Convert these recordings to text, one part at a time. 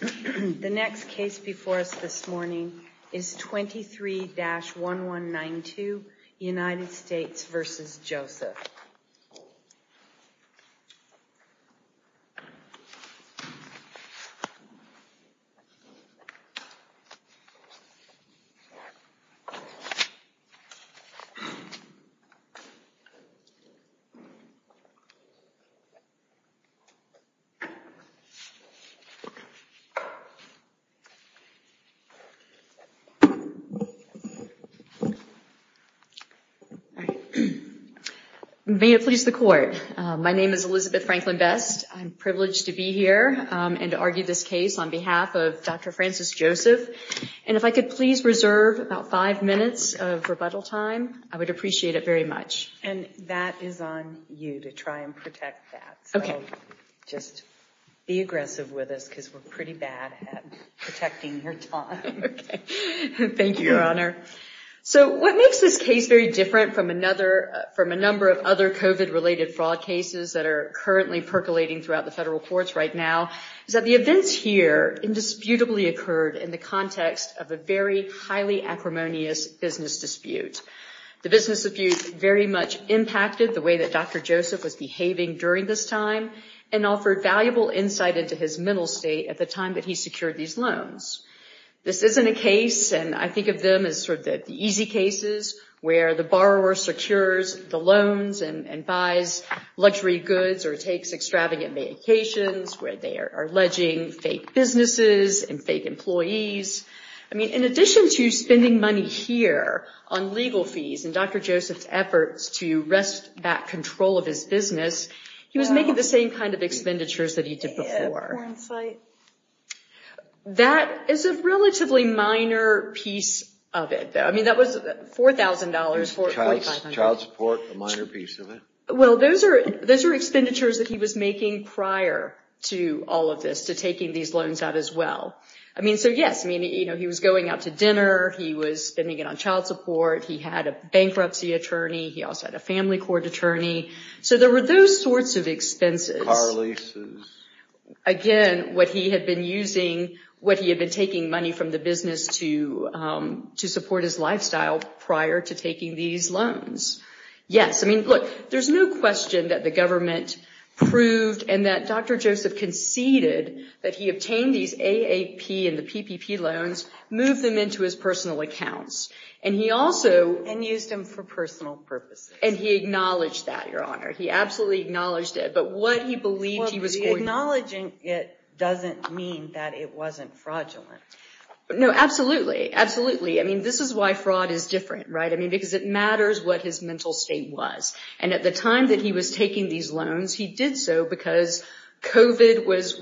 The next case before us this morning is 23-1192 United States v. Joseph. May it please the Court. My name is Elizabeth Franklin Best. I'm privileged to be here and to argue this case on behalf of Dr. Francis Joseph. And if I could please reserve about five minutes of rebuttal time, I would appreciate it very much. And that is on you to try and protect that. Okay. Just be aggressive with us because we're pretty bad at protecting your time. Okay. Thank you, Your Honor. So what makes this case very different from another from a number of other COVID related fraud cases that are currently percolating throughout the federal courts right now is that the events here indisputably occurred in the context of a very highly acrimonious business dispute. The business dispute very much impacted the way that Dr. Joseph was behaving during this time and offered valuable insight into his mental state at the time that he secured these loans. This isn't a case, and I think of them as sort of the easy cases where the borrower secures the loans and buys luxury goods or takes extravagant vacations where they are alleging fake businesses and fake employees. I mean, in addition to spending money here on legal fees and Dr. Joseph's efforts to wrest back control of his business, he was making the same kind of expenditures that he did before. That is a relatively minor piece of it, though. I mean, that was $4,000, $4,500. Child support, a minor piece of it. Well, those are expenditures that he was making prior to all of this, to taking these loans out as well. I mean, so yes, I mean, he was going out to dinner. He was spending it on child support. He had a bankruptcy attorney. He also had a family court attorney. So there were those sorts of expenses. Again, what he had been using, what he had been taking money from the business to support his lifestyle prior to taking these loans. Yes, I mean, look, there's no question that the government proved and that Dr. Joseph conceded that he was fraudulent. And he also... And used them for personal purposes. And he acknowledged that, Your Honor. He absolutely acknowledged it. But what he believed he was... Well, the acknowledging it doesn't mean that it wasn't fraudulent. No, absolutely. Absolutely. I mean, this is why fraud is different, right? I mean, because it matters what his mental state was. And at the time that he was taking these loans, he did so because COVID was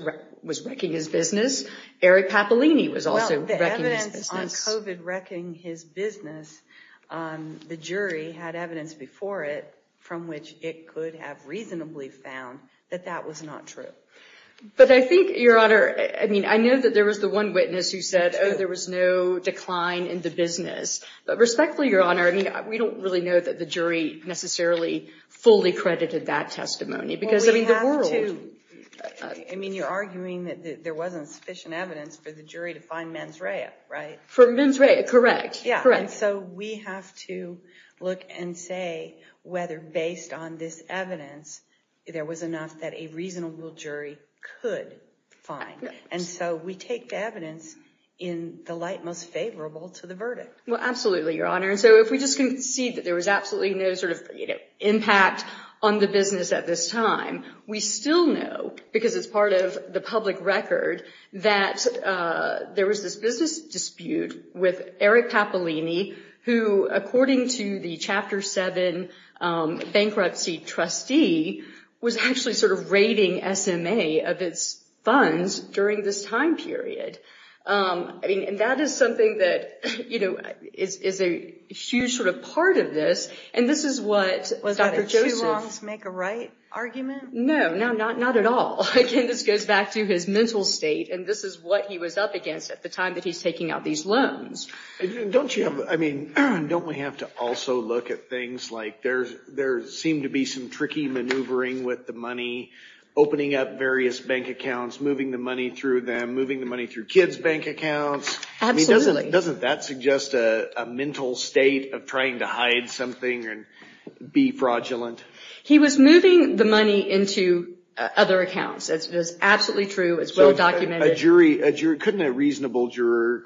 wrecking his business. Eric Papolini was also wrecking his business. Well, the evidence on COVID wrecking his business, the jury had evidence before it from which it could have reasonably found that that was not true. But I think, Your Honor, I mean, I know that there was the one witness who said, oh, there was no decline in the business. But respectfully, Your Honor, I mean, we don't really know that the jury necessarily fully credited that testimony because I mean, the world... I mean, you're arguing that there wasn't sufficient evidence for the jury to find mens rea, right? For mens rea, correct. Correct. Yeah. And so we have to look and say whether based on this evidence, there was enough that a reasonable jury could find. And so we take the evidence in the light most favorable to the verdict. Well, absolutely, Your Honor. And so if we just concede that there was absolutely no sort of impact on the business at this time, we still know, because it's part of the public record, that there was this business dispute with Eric Papolini, who, according to the Chapter 7 bankruptcy trustee, was actually sort of raiding SMA of its funds during this time period. I mean, and that is something that, you know, is a huge sort of part of this. And this is what Dr. Joseph... Was that a two wrongs make a right argument? No, not at all. Again, this goes back to his mental state, and this is what he was up against at the time that he's taking out these loans. Don't you have... I mean, don't we have to also look at things like there seemed to be some tricky maneuvering with the money, opening up various bank accounts, moving the money through them, moving the money through kids' bank accounts? Absolutely. I mean, doesn't that suggest a mental state of trying to hide something and be fraudulent? He was moving the money into other accounts. That's absolutely true. It's well documented. Couldn't a reasonable juror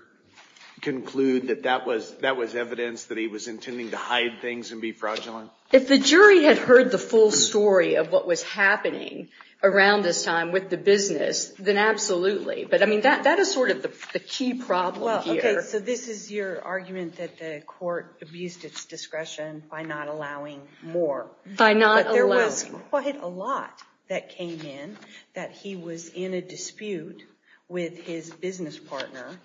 conclude that that was evidence that he was intending to hide things and be fraudulent? If the jury had heard the full story of what was happening around this time with the business, then absolutely. But I mean, that is sort of the key problem here. Okay, so this is your argument that the court abused its discretion by not allowing more. By not allowing. There was quite a lot that came in that he was in a dispute with his business partner,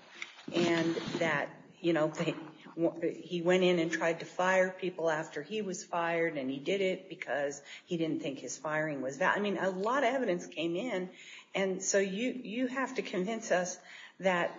and that he went in and tried to fire people after he was fired, and he did it because he didn't think his firing was valid. I mean, a lot of evidence came in, and so you have to convince us that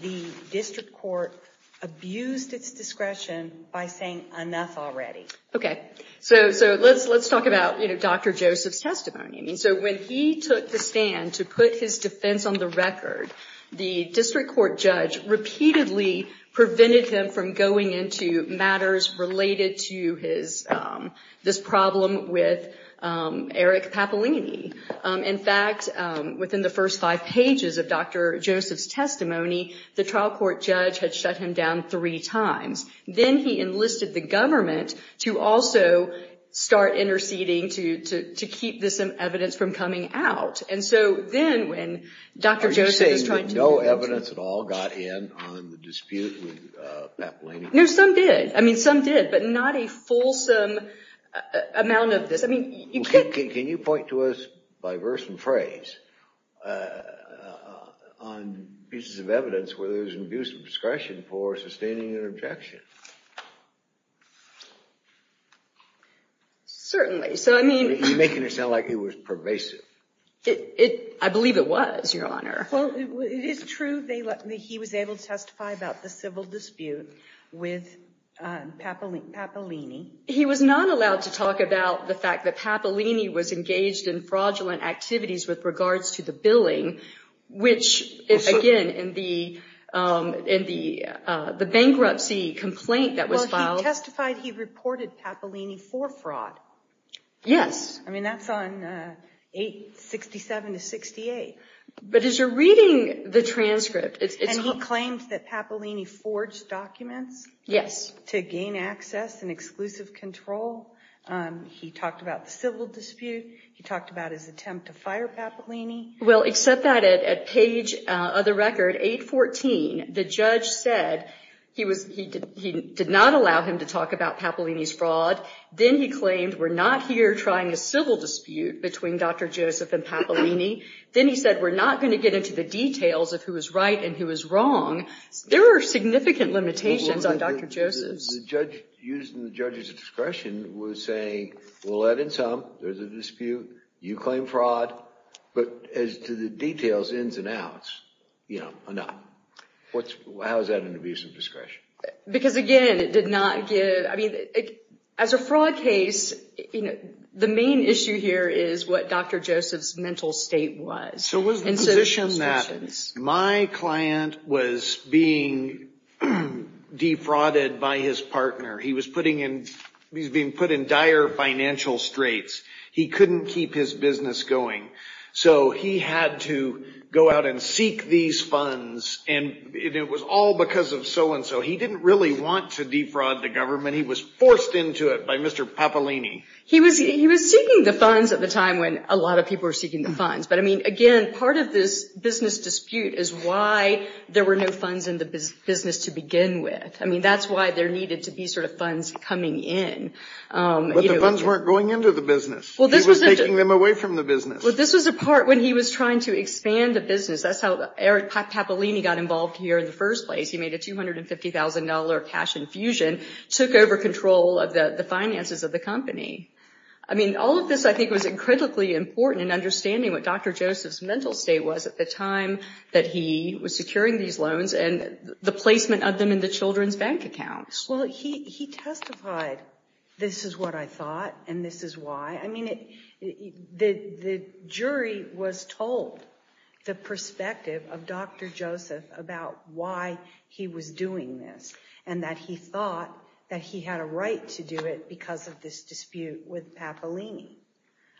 the district court abused its discretion by saying, enough already. Okay, so let's talk about Dr. Joseph's testimony. I mean, so when he took the stand to put his defense on the record, the district court judge repeatedly prevented him from going into matters related to his, this problem with Eric Papalini. In fact, within the first five pages of Dr. Joseph's testimony, the trial court judge had shut him down three times. Then he enlisted the government to also start interceding to keep this evidence from coming out. And so then when Dr. Joseph was trying to... Are you saying that no evidence at all got in on the dispute with Papalini? No, some did. I mean, some did, but not a fulsome amount of this. I mean, you could... Can you point to us, by verse and phrase, on pieces of evidence where there's an abuse of discretion for sustaining an objection? Certainly. So, I mean... You're making it sound like it was pervasive. I believe it was, Your Honor. Well, it is true that he was able to testify about the civil dispute with Papalini. He was not allowed to talk about the fact that Papalini was engaged in fraudulent activities with regards to the billing, which, again, in the bankruptcy complaint that was filed... But as you're reading the transcript, it's... And he claimed that Papalini forged documents... Yes. ...to gain access and exclusive control. He talked about the civil dispute. He talked about his attempt to fire Papalini. Well, except that at page, of the record, 814, the judge said he did not allow him to talk about Papalini's fraud. Then he claimed, we're not here trying a civil dispute between Dr. Joseph and Papalini. Then he said, we're not going to get into the details of who is right and who is wrong. There are significant limitations on Dr. Joseph's... The judge, using the judge's discretion, was saying, well, that and some. There's a dispute. You claim fraud. But as to the details, ins and outs, you know, enough. How is that an abuse of discretion? Because, again, it did not give... I mean, as a fraud case, the main issue here is what Dr. Joseph's mental state was. So it was the position that my client was being defrauded by his partner. He was being put in dire financial straits. He couldn't keep his business going. So he had to go out and seek these funds. And it was all because of so-and-so. He didn't really want to defraud the government. He was forced into it by Mr. Papalini. He was seeking the funds at the time when a lot of people were seeking the funds. But, I mean, again, part of this business dispute is why there were no funds in the business to begin with. I mean, that's why there needed to be sort of funds coming in. But the funds weren't going into the business. He was taking them away from the business. Well, this was a part when he was trying to expand the business. That's how Eric Papalini got involved here in the first place. He made a $250,000 cash infusion, took over control of the finances of the company. I mean, all of this, I think, was incredibly important in understanding what Dr. Joseph's mental state was at the time that he was securing these loans and the placement of them in the children's bank accounts. Well, he testified, this is what I thought and this is why. I mean, the jury was told the perspective of Dr. Joseph about why he was doing this and that he thought that he had a right to do it because of this dispute with Papalini.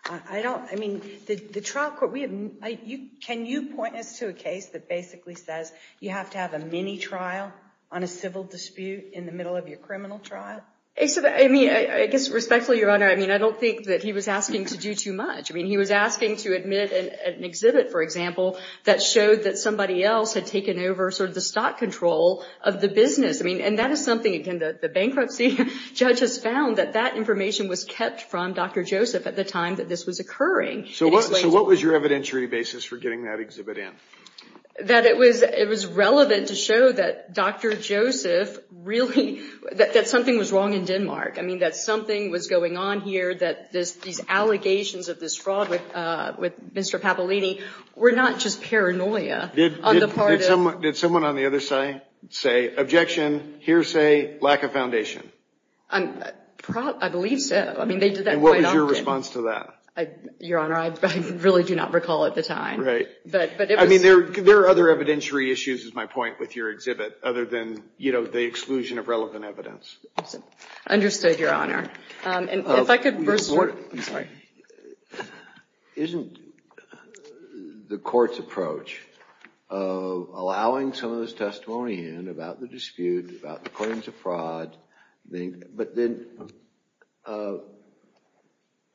I mean, the trial court, can you point us to a case that basically says you have to have a mini-trial on a civil dispute in the middle of your criminal trial? I mean, I guess respectfully, Your Honor, I mean, I don't think that he was asking to do too much. I mean, he was asking to admit an exhibit, for example, that showed that somebody else had taken over sort of the stock control of the business. I mean, and that is something, again, the bankruptcy judge has found that that information was kept from Dr. Joseph at the time that this was occurring. So what was your evidentiary basis for getting that exhibit in? That it was relevant to show that Dr. Joseph really, that something was wrong in Denmark. I mean, that something was going on here, that these allegations of this fraud with Mr. Papalini were not just paranoia. Did someone on the other side say, objection, hearsay, lack of foundation? I believe so. And what was your response to that? Your Honor, I really do not recall at the time. Right. I mean, there are other evidentiary issues, is my point with your exhibit, other than, you know, the exclusion of relevant evidence. Understood, Your Honor. Isn't the court's approach of allowing some of this testimony in about the dispute, about the claims of fraud, but then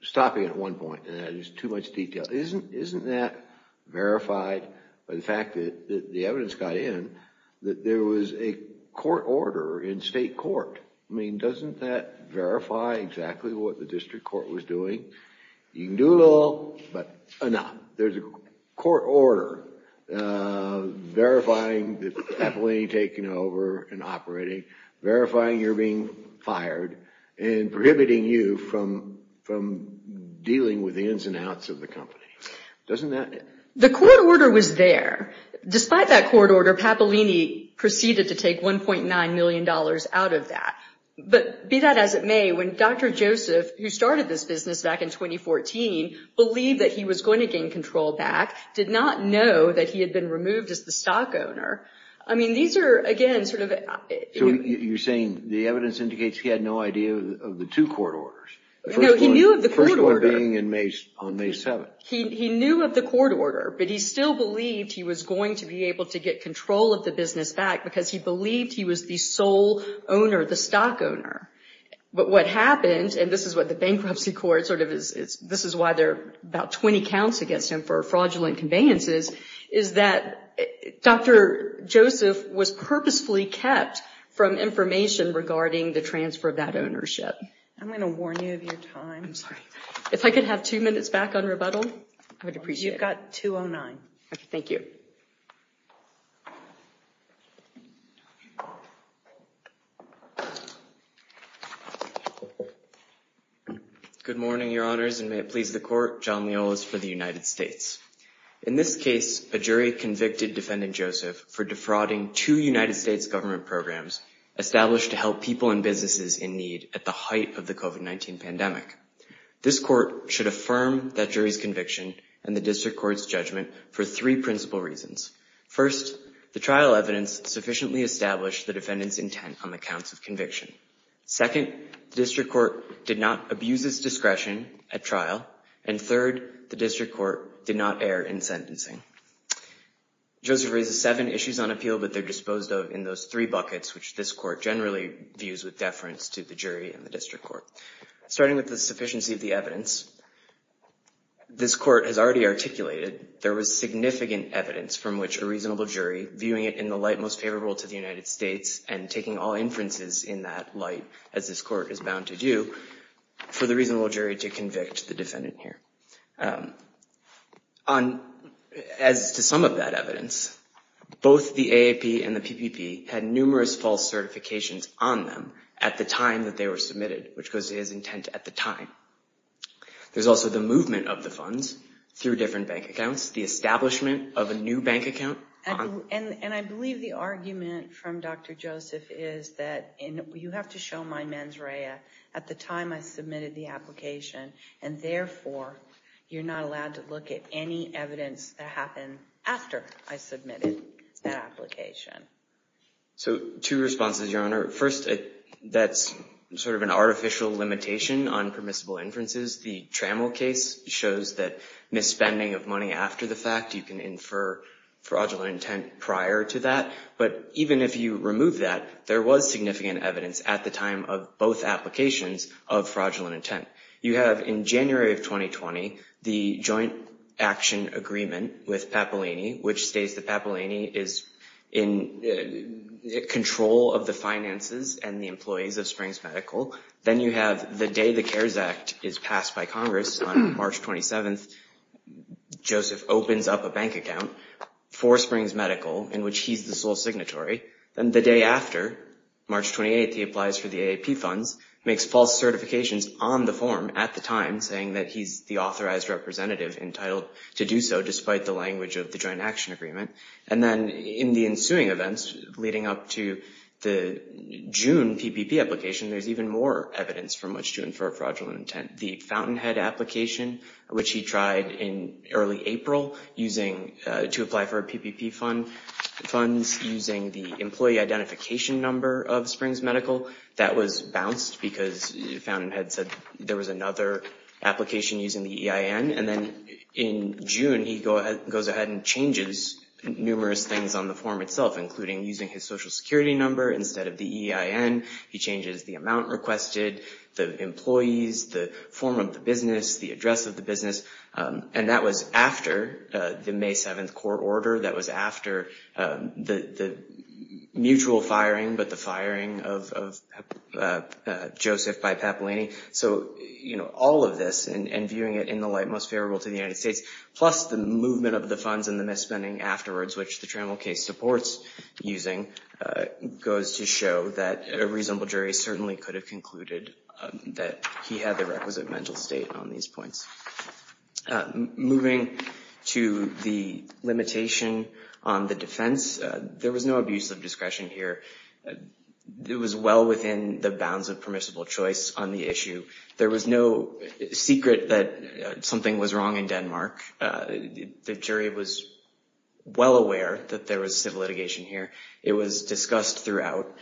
stopping at one point, and that is too much detail. Isn't that verified by the fact that the evidence got in that there was a court order in state court? I mean, doesn't that verify exactly what the district court was doing? You can do it all, but not. There's a court order verifying that Papalini had taken over and operating, verifying you're being fired, and prohibiting you from dealing with the ins and outs of the company. Doesn't that? The court order was there. Despite that court order, Papalini proceeded to take $1.9 million out of that. But be that as it may, when Dr. Joseph, who started this business back in 2014, believed that he was going to gain control back, did not know that he had been removed as the stock owner. I mean, these are, again, sort of... So you're saying the evidence indicates he had no idea of the two court orders. No, he knew of the court order. The first one being on May 7th. He knew of the court order, but he still believed he was going to be able to get control of the business back because he believed he was the sole owner, the stock owner. But what happened, and this is what the bankruptcy court, this is why there are about 20 counts against him for fraudulent conveyances, is that Dr. Joseph was purposefully kept from information regarding the transfer of that ownership. I'm going to warn you of your time. I'm sorry. If I could have two minutes back on rebuttal, I would appreciate it. You've got 2.09. Okay, thank you. Good morning, Your Honors, and may it please the Court. John Miolas for the United States. In this case, a jury convicted Defendant Joseph for defrauding two United States government programs established to help people and businesses in need at the height of the COVID-19 pandemic. This court should affirm that jury's conviction and the district court's judgment for three principal reasons. First, the trial evidence sufficiently established the defendant's intent on the counts of conviction. Second, the district court did not abuse its discretion at trial. And third, the district court did not err in sentencing. Joseph raises seven issues on appeal, but they're disposed of in those three buckets, which this court generally views with deference to the jury and the district court. Starting with the sufficiency of the evidence, this court has already articulated there was significant evidence from which a reasonable jury, viewing it in the light most favorable to the United States and taking all inferences in that light, as this court is bound to do, for the reasonable jury to convict the defendant here. As to some of that evidence, both the AAP and the PPP had numerous false certifications on them at the time that they were submitted, which goes to his intent at the time. There's also the movement of the funds through different bank accounts, the establishment of a new bank account. And I believe the argument from Dr. Joseph is that you have to show my mens rea at the time I submitted the application and therefore you're not allowed to look at any evidence that happened after I submitted that application. So two responses, Your Honor. First, that's sort of an artificial limitation on permissible inferences. The Trammell case shows that misspending of money after the fact, you can infer fraudulent intent prior to that. But even if you remove that, there was significant evidence at the time of both applications of fraudulent intent. You have in January of 2020, the joint action agreement with Papalini, which states that Papalini is in control of the finances and the employees of Springs Medical. Then you have the day the CARES Act is passed by Congress on March 27th. Joseph opens up a bank account for Springs Medical in which he's the sole signatory. Then the day after, March 28th, he applies for the AAP funds, makes false certifications on the form at the time, saying that he's the authorized representative entitled to do so despite the language of the joint action agreement. And then in the ensuing events leading up to the June PPP application, there's even more evidence from which to infer fraudulent intent. Then you have the Fountainhead application, which he tried in early April to apply for PPP funds using the employee identification number of Springs Medical. That was bounced because Fountainhead said there was another application using the EIN. And then in June, he goes ahead and changes numerous things on the form itself, including using his Social Security number instead of the EIN. He changes the amount requested, the employees, the form of the business, the address of the business. And that was after the May 7th court order. That was after the mutual firing, but the firing of Joseph by Papalani. So, you know, all of this and viewing it in the light most favorable to the United States, plus the movement of the funds and the misspending afterwards, which the Trammell case supports using, goes to show that a reasonable jury certainly could have concluded that he had the requisite mental state on these points. Moving to the limitation on the defense, there was no abuse of discretion here. It was well within the bounds of permissible choice on the issue. There was no secret that something was wrong in Denmark. The jury was well aware that there was civil litigation here. It was discussed throughout.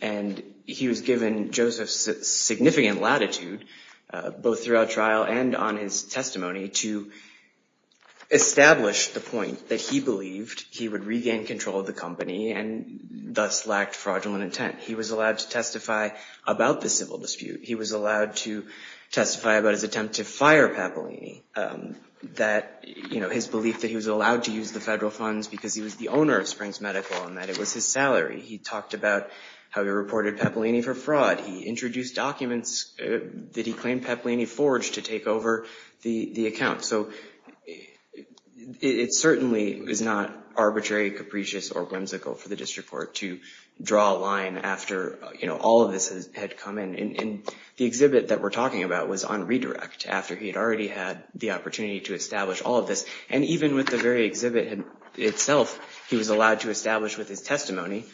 And he was given Joseph's significant latitude, both throughout trial and on his testimony, to establish the point that he believed he would regain control of the company and thus lacked fraudulent intent. He was allowed to testify about the civil dispute. He was allowed to testify about his attempt to fire Papalani, his belief that he was allowed to use the federal funds because he was the owner of Springs Medical and that it was his salary. He talked about how he reported Papalani for fraud. He introduced documents that he claimed Papalani forged to take over the account. So it certainly is not arbitrary, capricious, or whimsical for the district court to draw a line after all of this had come in. And the exhibit that we're talking about was on redirect after he had already had the opportunity to establish all of this. And even with the very exhibit itself, he was allowed to establish with his testimony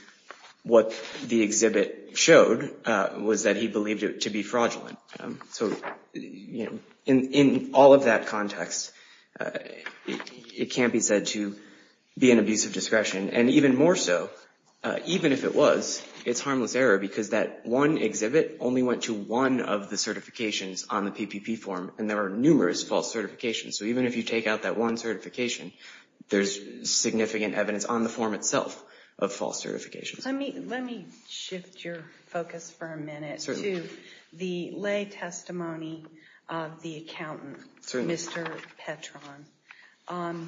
what the exhibit showed was that he believed it to be fraudulent. So, you know, in all of that context, it can't be said to be an abuse of discretion. And even more so, even if it was, it's harmless error because that one exhibit only went to one of the certifications on the PPP form, and there are numerous false certifications. So even if you take out that one certification, there's significant evidence on the form itself of false certifications. Let me shift your focus for a minute to the lay testimony of the accountant, Mr. Petron.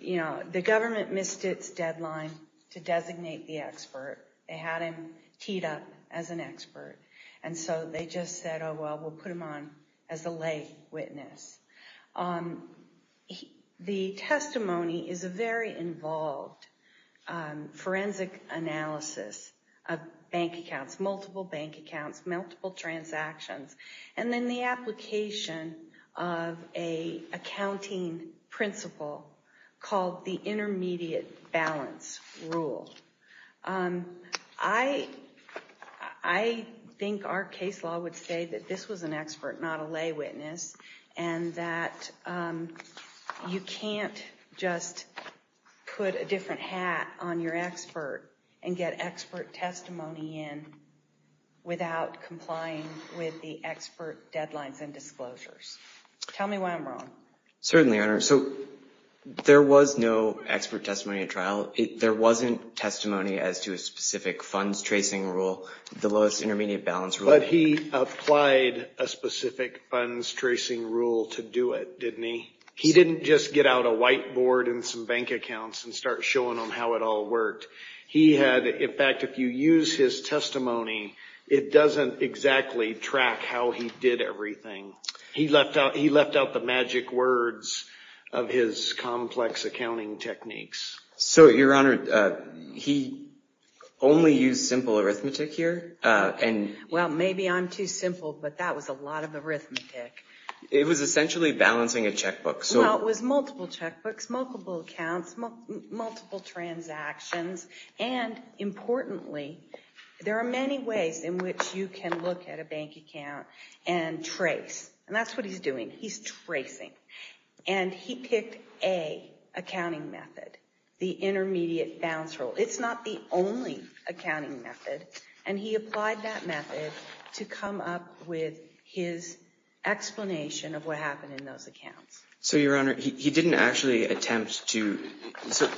You know, the government missed its deadline to designate the expert. They had him teed up as an expert. And so they just said, oh, well, we'll put him on as a lay witness. The testimony is a very involved forensic analysis of bank accounts, multiple bank accounts, multiple transactions. And then the application of an accounting principle called the intermediate balance rule. I think our case law would say that this was an expert, not a lay witness, and that you can't just put a different hat on your expert and get expert testimony in without complying with the expert deadlines and disclosures. Tell me why I'm wrong. Certainly, Your Honor. So there was no expert testimony at trial. There wasn't testimony as to a specific funds tracing rule, the lowest intermediate balance rule. But he applied a specific funds tracing rule to do it, didn't he? He didn't just get out a whiteboard and some bank accounts and start showing them how it all worked. In fact, if you use his testimony, it doesn't exactly track how he did everything. He left out the magic words of his complex accounting techniques. So, Your Honor, he only used simple arithmetic here. Well, maybe I'm too simple, but that was a lot of arithmetic. It was essentially balancing a checkbook. Well, it was multiple checkbooks, multiple accounts, multiple transactions. And importantly, there are many ways in which you can look at a bank account and trace. And that's what he's doing. He's tracing. And he picked A, accounting method, the intermediate balance rule. It's not the only accounting method. And he applied that method to come up with his explanation of what happened in those accounts. So, Your Honor, he didn't actually attempt to. So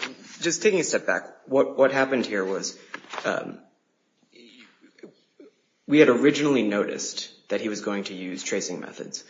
just taking a step back, what happened here was we had originally noticed that he was going to use tracing methods.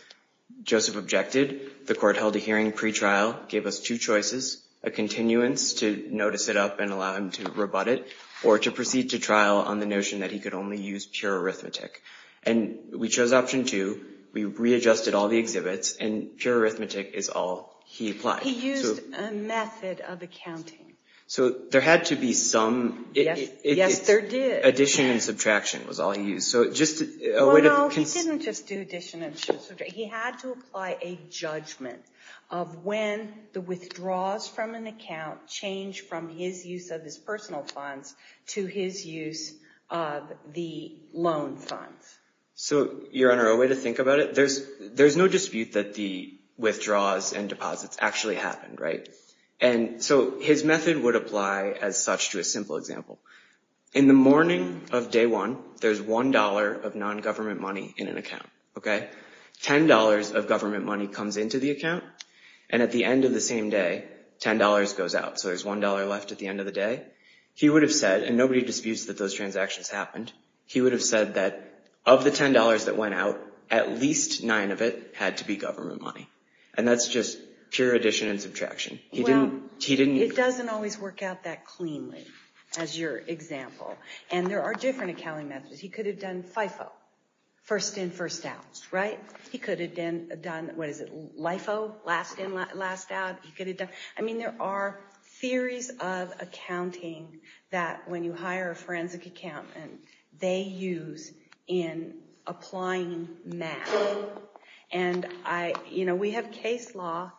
Joseph objected. The court held a hearing pretrial, gave us two choices, a continuance to notice it up and allow him to rebut it, or to proceed to trial on the notion that he could only use pure arithmetic. And we chose option two. We readjusted all the exhibits, and pure arithmetic is all he applied. He used a method of accounting. So there had to be some. Yes, there did. Addition and subtraction was all he used. Well, no, he didn't just do addition and subtraction. He had to apply a judgment of when the withdrawals from an account changed from his use of his personal funds to his use of the loan funds. So, Your Honor, a way to think about it, there's no dispute that the withdrawals and deposits actually happened, right? And so his method would apply as such to a simple example. In the morning of day one, there's $1 of non-government money in an account. $10 of government money comes into the account, and at the end of the same day, $10 goes out. So there's $1 left at the end of the day. He would have said, and nobody disputes that those transactions happened, he would have said that of the $10 that went out, at least nine of it had to be government money. And that's just pure addition and subtraction. Well, it doesn't always work out that cleanly, as your example. And there are different accounting methods. He could have done FIFO, first in, first out. He could have done LIFO, last in, last out. I mean, there are theories of accounting that when you hire a forensic accountant, they use in applying math. And we have case law,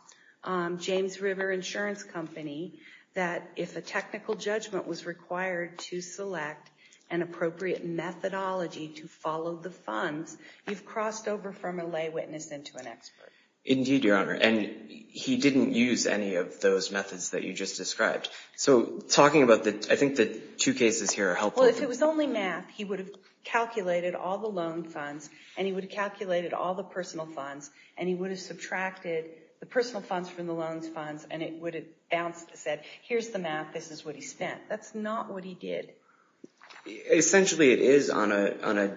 James River Insurance Company, that if a technical judgment was required to select an appropriate methodology to follow the funds, you've crossed over from a lay witness into an expert. Indeed, Your Honor. And he didn't use any of those methods that you just described. So I think the two cases here are helpful. Well, if it was only math, he would have calculated all the loan funds, and he would have calculated all the personal funds, and he would have subtracted the personal funds from the loans funds, and it would have bounced and said, here's the math, this is what he spent. That's not what he did. Essentially, it is on a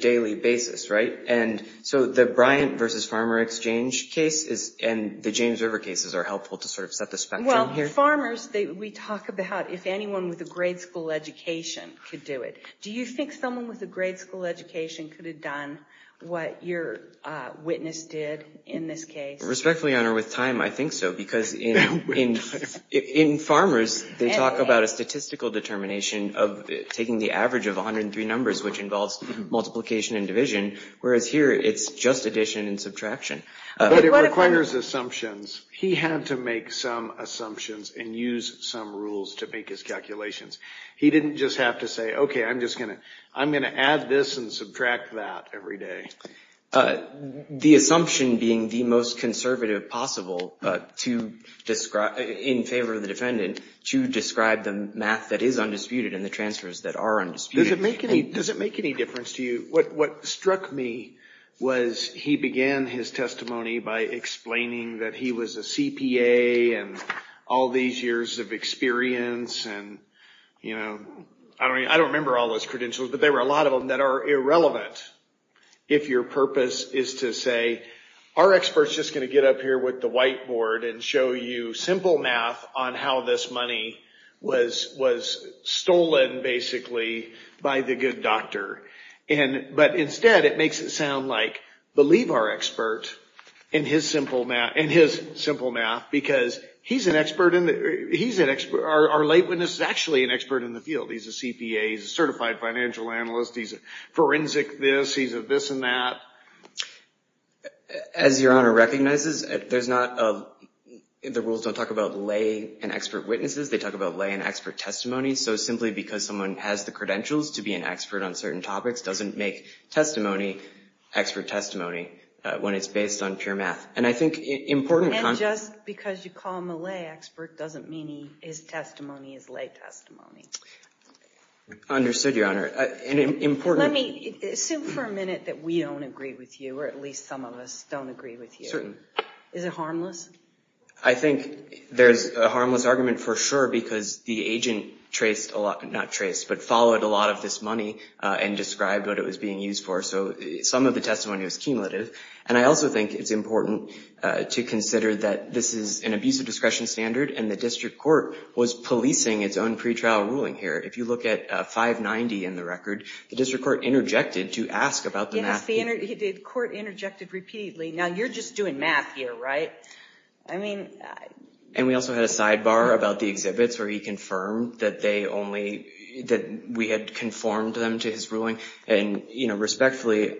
daily basis, right? And so the Bryant versus Farmer Exchange case and the James River cases are helpful to sort of set the spectrum here. Well, farmers, we talk about if anyone with a grade school education could do it. Do you think someone with a grade school education could have done what your witness did in this case? Respectfully, Your Honor, with time, I think so, because in farmers, they talk about a statistical determination of taking the average of 103 numbers, which involves multiplication and division, whereas here it's just addition and subtraction. But it requires assumptions. He had to make some assumptions and use some rules to make his calculations. He didn't just have to say, okay, I'm going to add this and subtract that every day. The assumption being the most conservative possible in favor of the defendant to describe the math that is undisputed and the transfers that are undisputed. Does it make any difference to you? What struck me was he began his testimony by explaining that he was a CPA and all these years of experience and, you know, I don't remember all those credentials, but there were a lot of them that are irrelevant if your purpose is to say, our expert is just going to get up here with the whiteboard and show you simple math on how this money was stolen, basically, by the good doctor. But instead, it makes it sound like, believe our expert in his simple math, because our lay witness is actually an expert in the field. He's a CPA. He's a certified financial analyst. He's a forensic this. He's a this and that. As Your Honor recognizes, the rules don't talk about lay and expert witnesses. They talk about lay and expert testimony. So simply because someone has the credentials to be an expert on certain topics doesn't make testimony expert testimony when it's based on pure math. And I think important. And just because you call him a lay expert doesn't mean his testimony is lay testimony. Understood, Your Honor. And important. Let me assume for a minute that we don't agree with you, or at least some of us don't agree with you. Certain. Is it harmless? I think there's a harmless argument for sure, because the agent traced a lot. Not traced, but followed a lot of this money and described what it was being used for. So some of the testimony was cumulative. And I also think it's important to consider that this is an abusive discretion standard, and the district court was policing its own pretrial ruling here. If you look at 590 in the record, the district court interjected to ask about the math. The court interjected repeatedly. Now, you're just doing math here, right? And we also had a sidebar about the exhibits where he confirmed that we had conformed them to his ruling. And respectfully,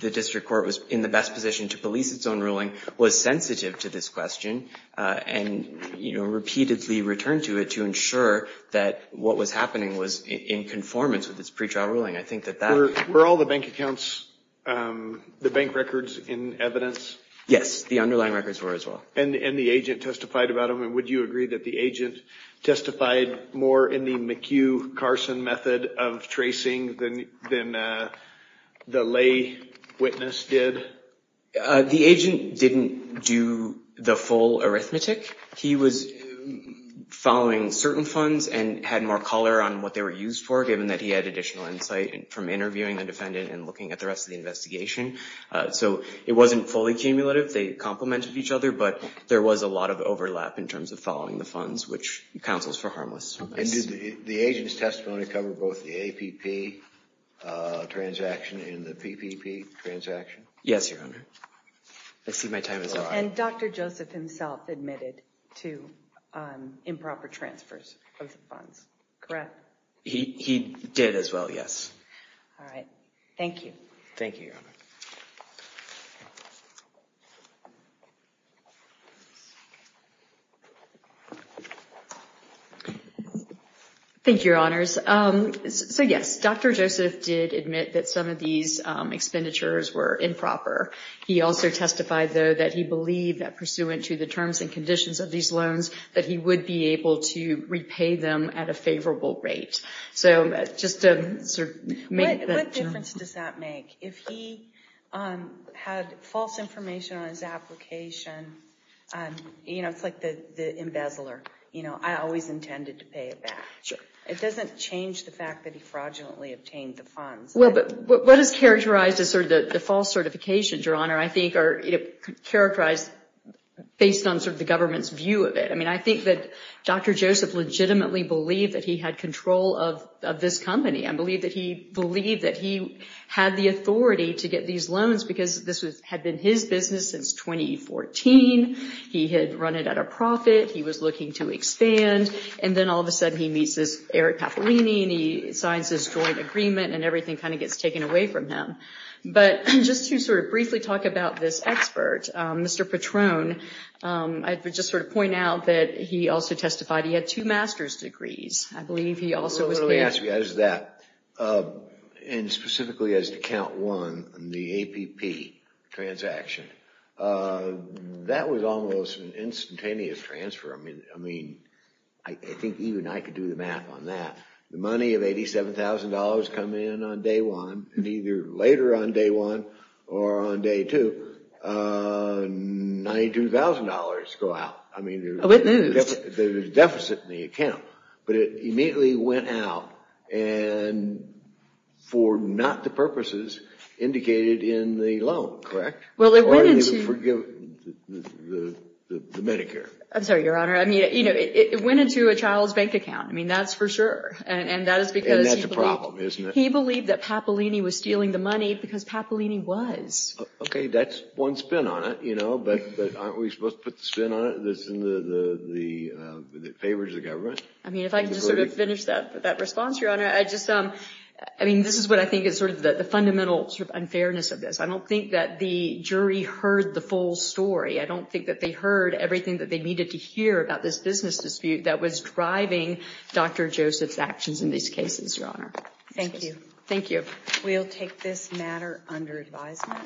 the district court was in the best position to police its own ruling, was sensitive to this question, and repeatedly returned to it to ensure that what was happening was in conformance with its pretrial ruling. Were all the bank accounts, the bank records, in evidence? Yes, the underlying records were as well. And the agent testified about them? And would you agree that the agent testified more in the McHugh-Carson method of tracing than the lay witness did? The agent didn't do the full arithmetic. He was following certain funds and had more color on what they were used for, given that he had additional insight from interviewing the defendant and looking at the rest of the investigation. So it wasn't fully cumulative. They complemented each other, but there was a lot of overlap in terms of following the funds, which counsels for harmless. And did the agent's testimony cover both the APP transaction and the PPP transaction? Yes, Your Honor. I see my time is up. And Dr. Joseph himself admitted to improper transfers of the funds, correct? He did as well, yes. All right. Thank you. Thank you, Your Honor. Thank you, Your Honors. So yes, Dr. Joseph did admit that some of these expenditures were improper. He also testified, though, that he believed that pursuant to the terms and conditions of these loans, that he would be able to repay them at a favorable rate. So just to sort of make that clear. What difference does that make? If he had false information on his application, you know, it's like the embezzler. You know, I always intended to pay it back. Sure. It doesn't change the fact that he fraudulently obtained the funds. Well, but what is characterized as sort of the false certification, Your Honor, I think are characterized based on sort of the government's view of it. I mean, I think that Dr. Joseph legitimately believed that he had control of this company. I believe that he believed that he had the authority to get these loans because this had been his business since 2014. He had run it at a profit. He was looking to expand. And then all of a sudden he meets this Eric Papalini and he signs this joint agreement and everything kind of gets taken away from him. But just to sort of briefly talk about this expert, Mr. Patron, I would just sort of point out that he also testified he had two master's degrees. I believe he also was paid. Let me ask you guys that. And specifically as to count one, the APP transaction, that was almost an instantaneous transfer. I mean, I think even I could do the math on that. The money of $87,000 come in on day one, and either later on day one or on day two, $92,000 go out. I mean, there's a deficit in the account. But it immediately went out and for not the purposes indicated in the loan, correct? Well, it went into— Or the Medicare. I'm sorry, Your Honor. I mean, it went into a child's bank account. I mean, that's for sure. And that is because— And that's a problem, isn't it? He believed that Papalini was stealing the money because Papalini was. Okay, that's one spin on it, you know. But aren't we supposed to put the spin on it that favors the government? I mean, if I could just sort of finish that response, Your Honor. I just—I mean, this is what I think is sort of the fundamental sort of unfairness of this. I don't think that the jury heard the full story. I don't think that they heard everything that they needed to hear about this business dispute that was driving Dr. Joseph's actions in these cases, Your Honor. Thank you. Thank you. We'll take this matter under advisement.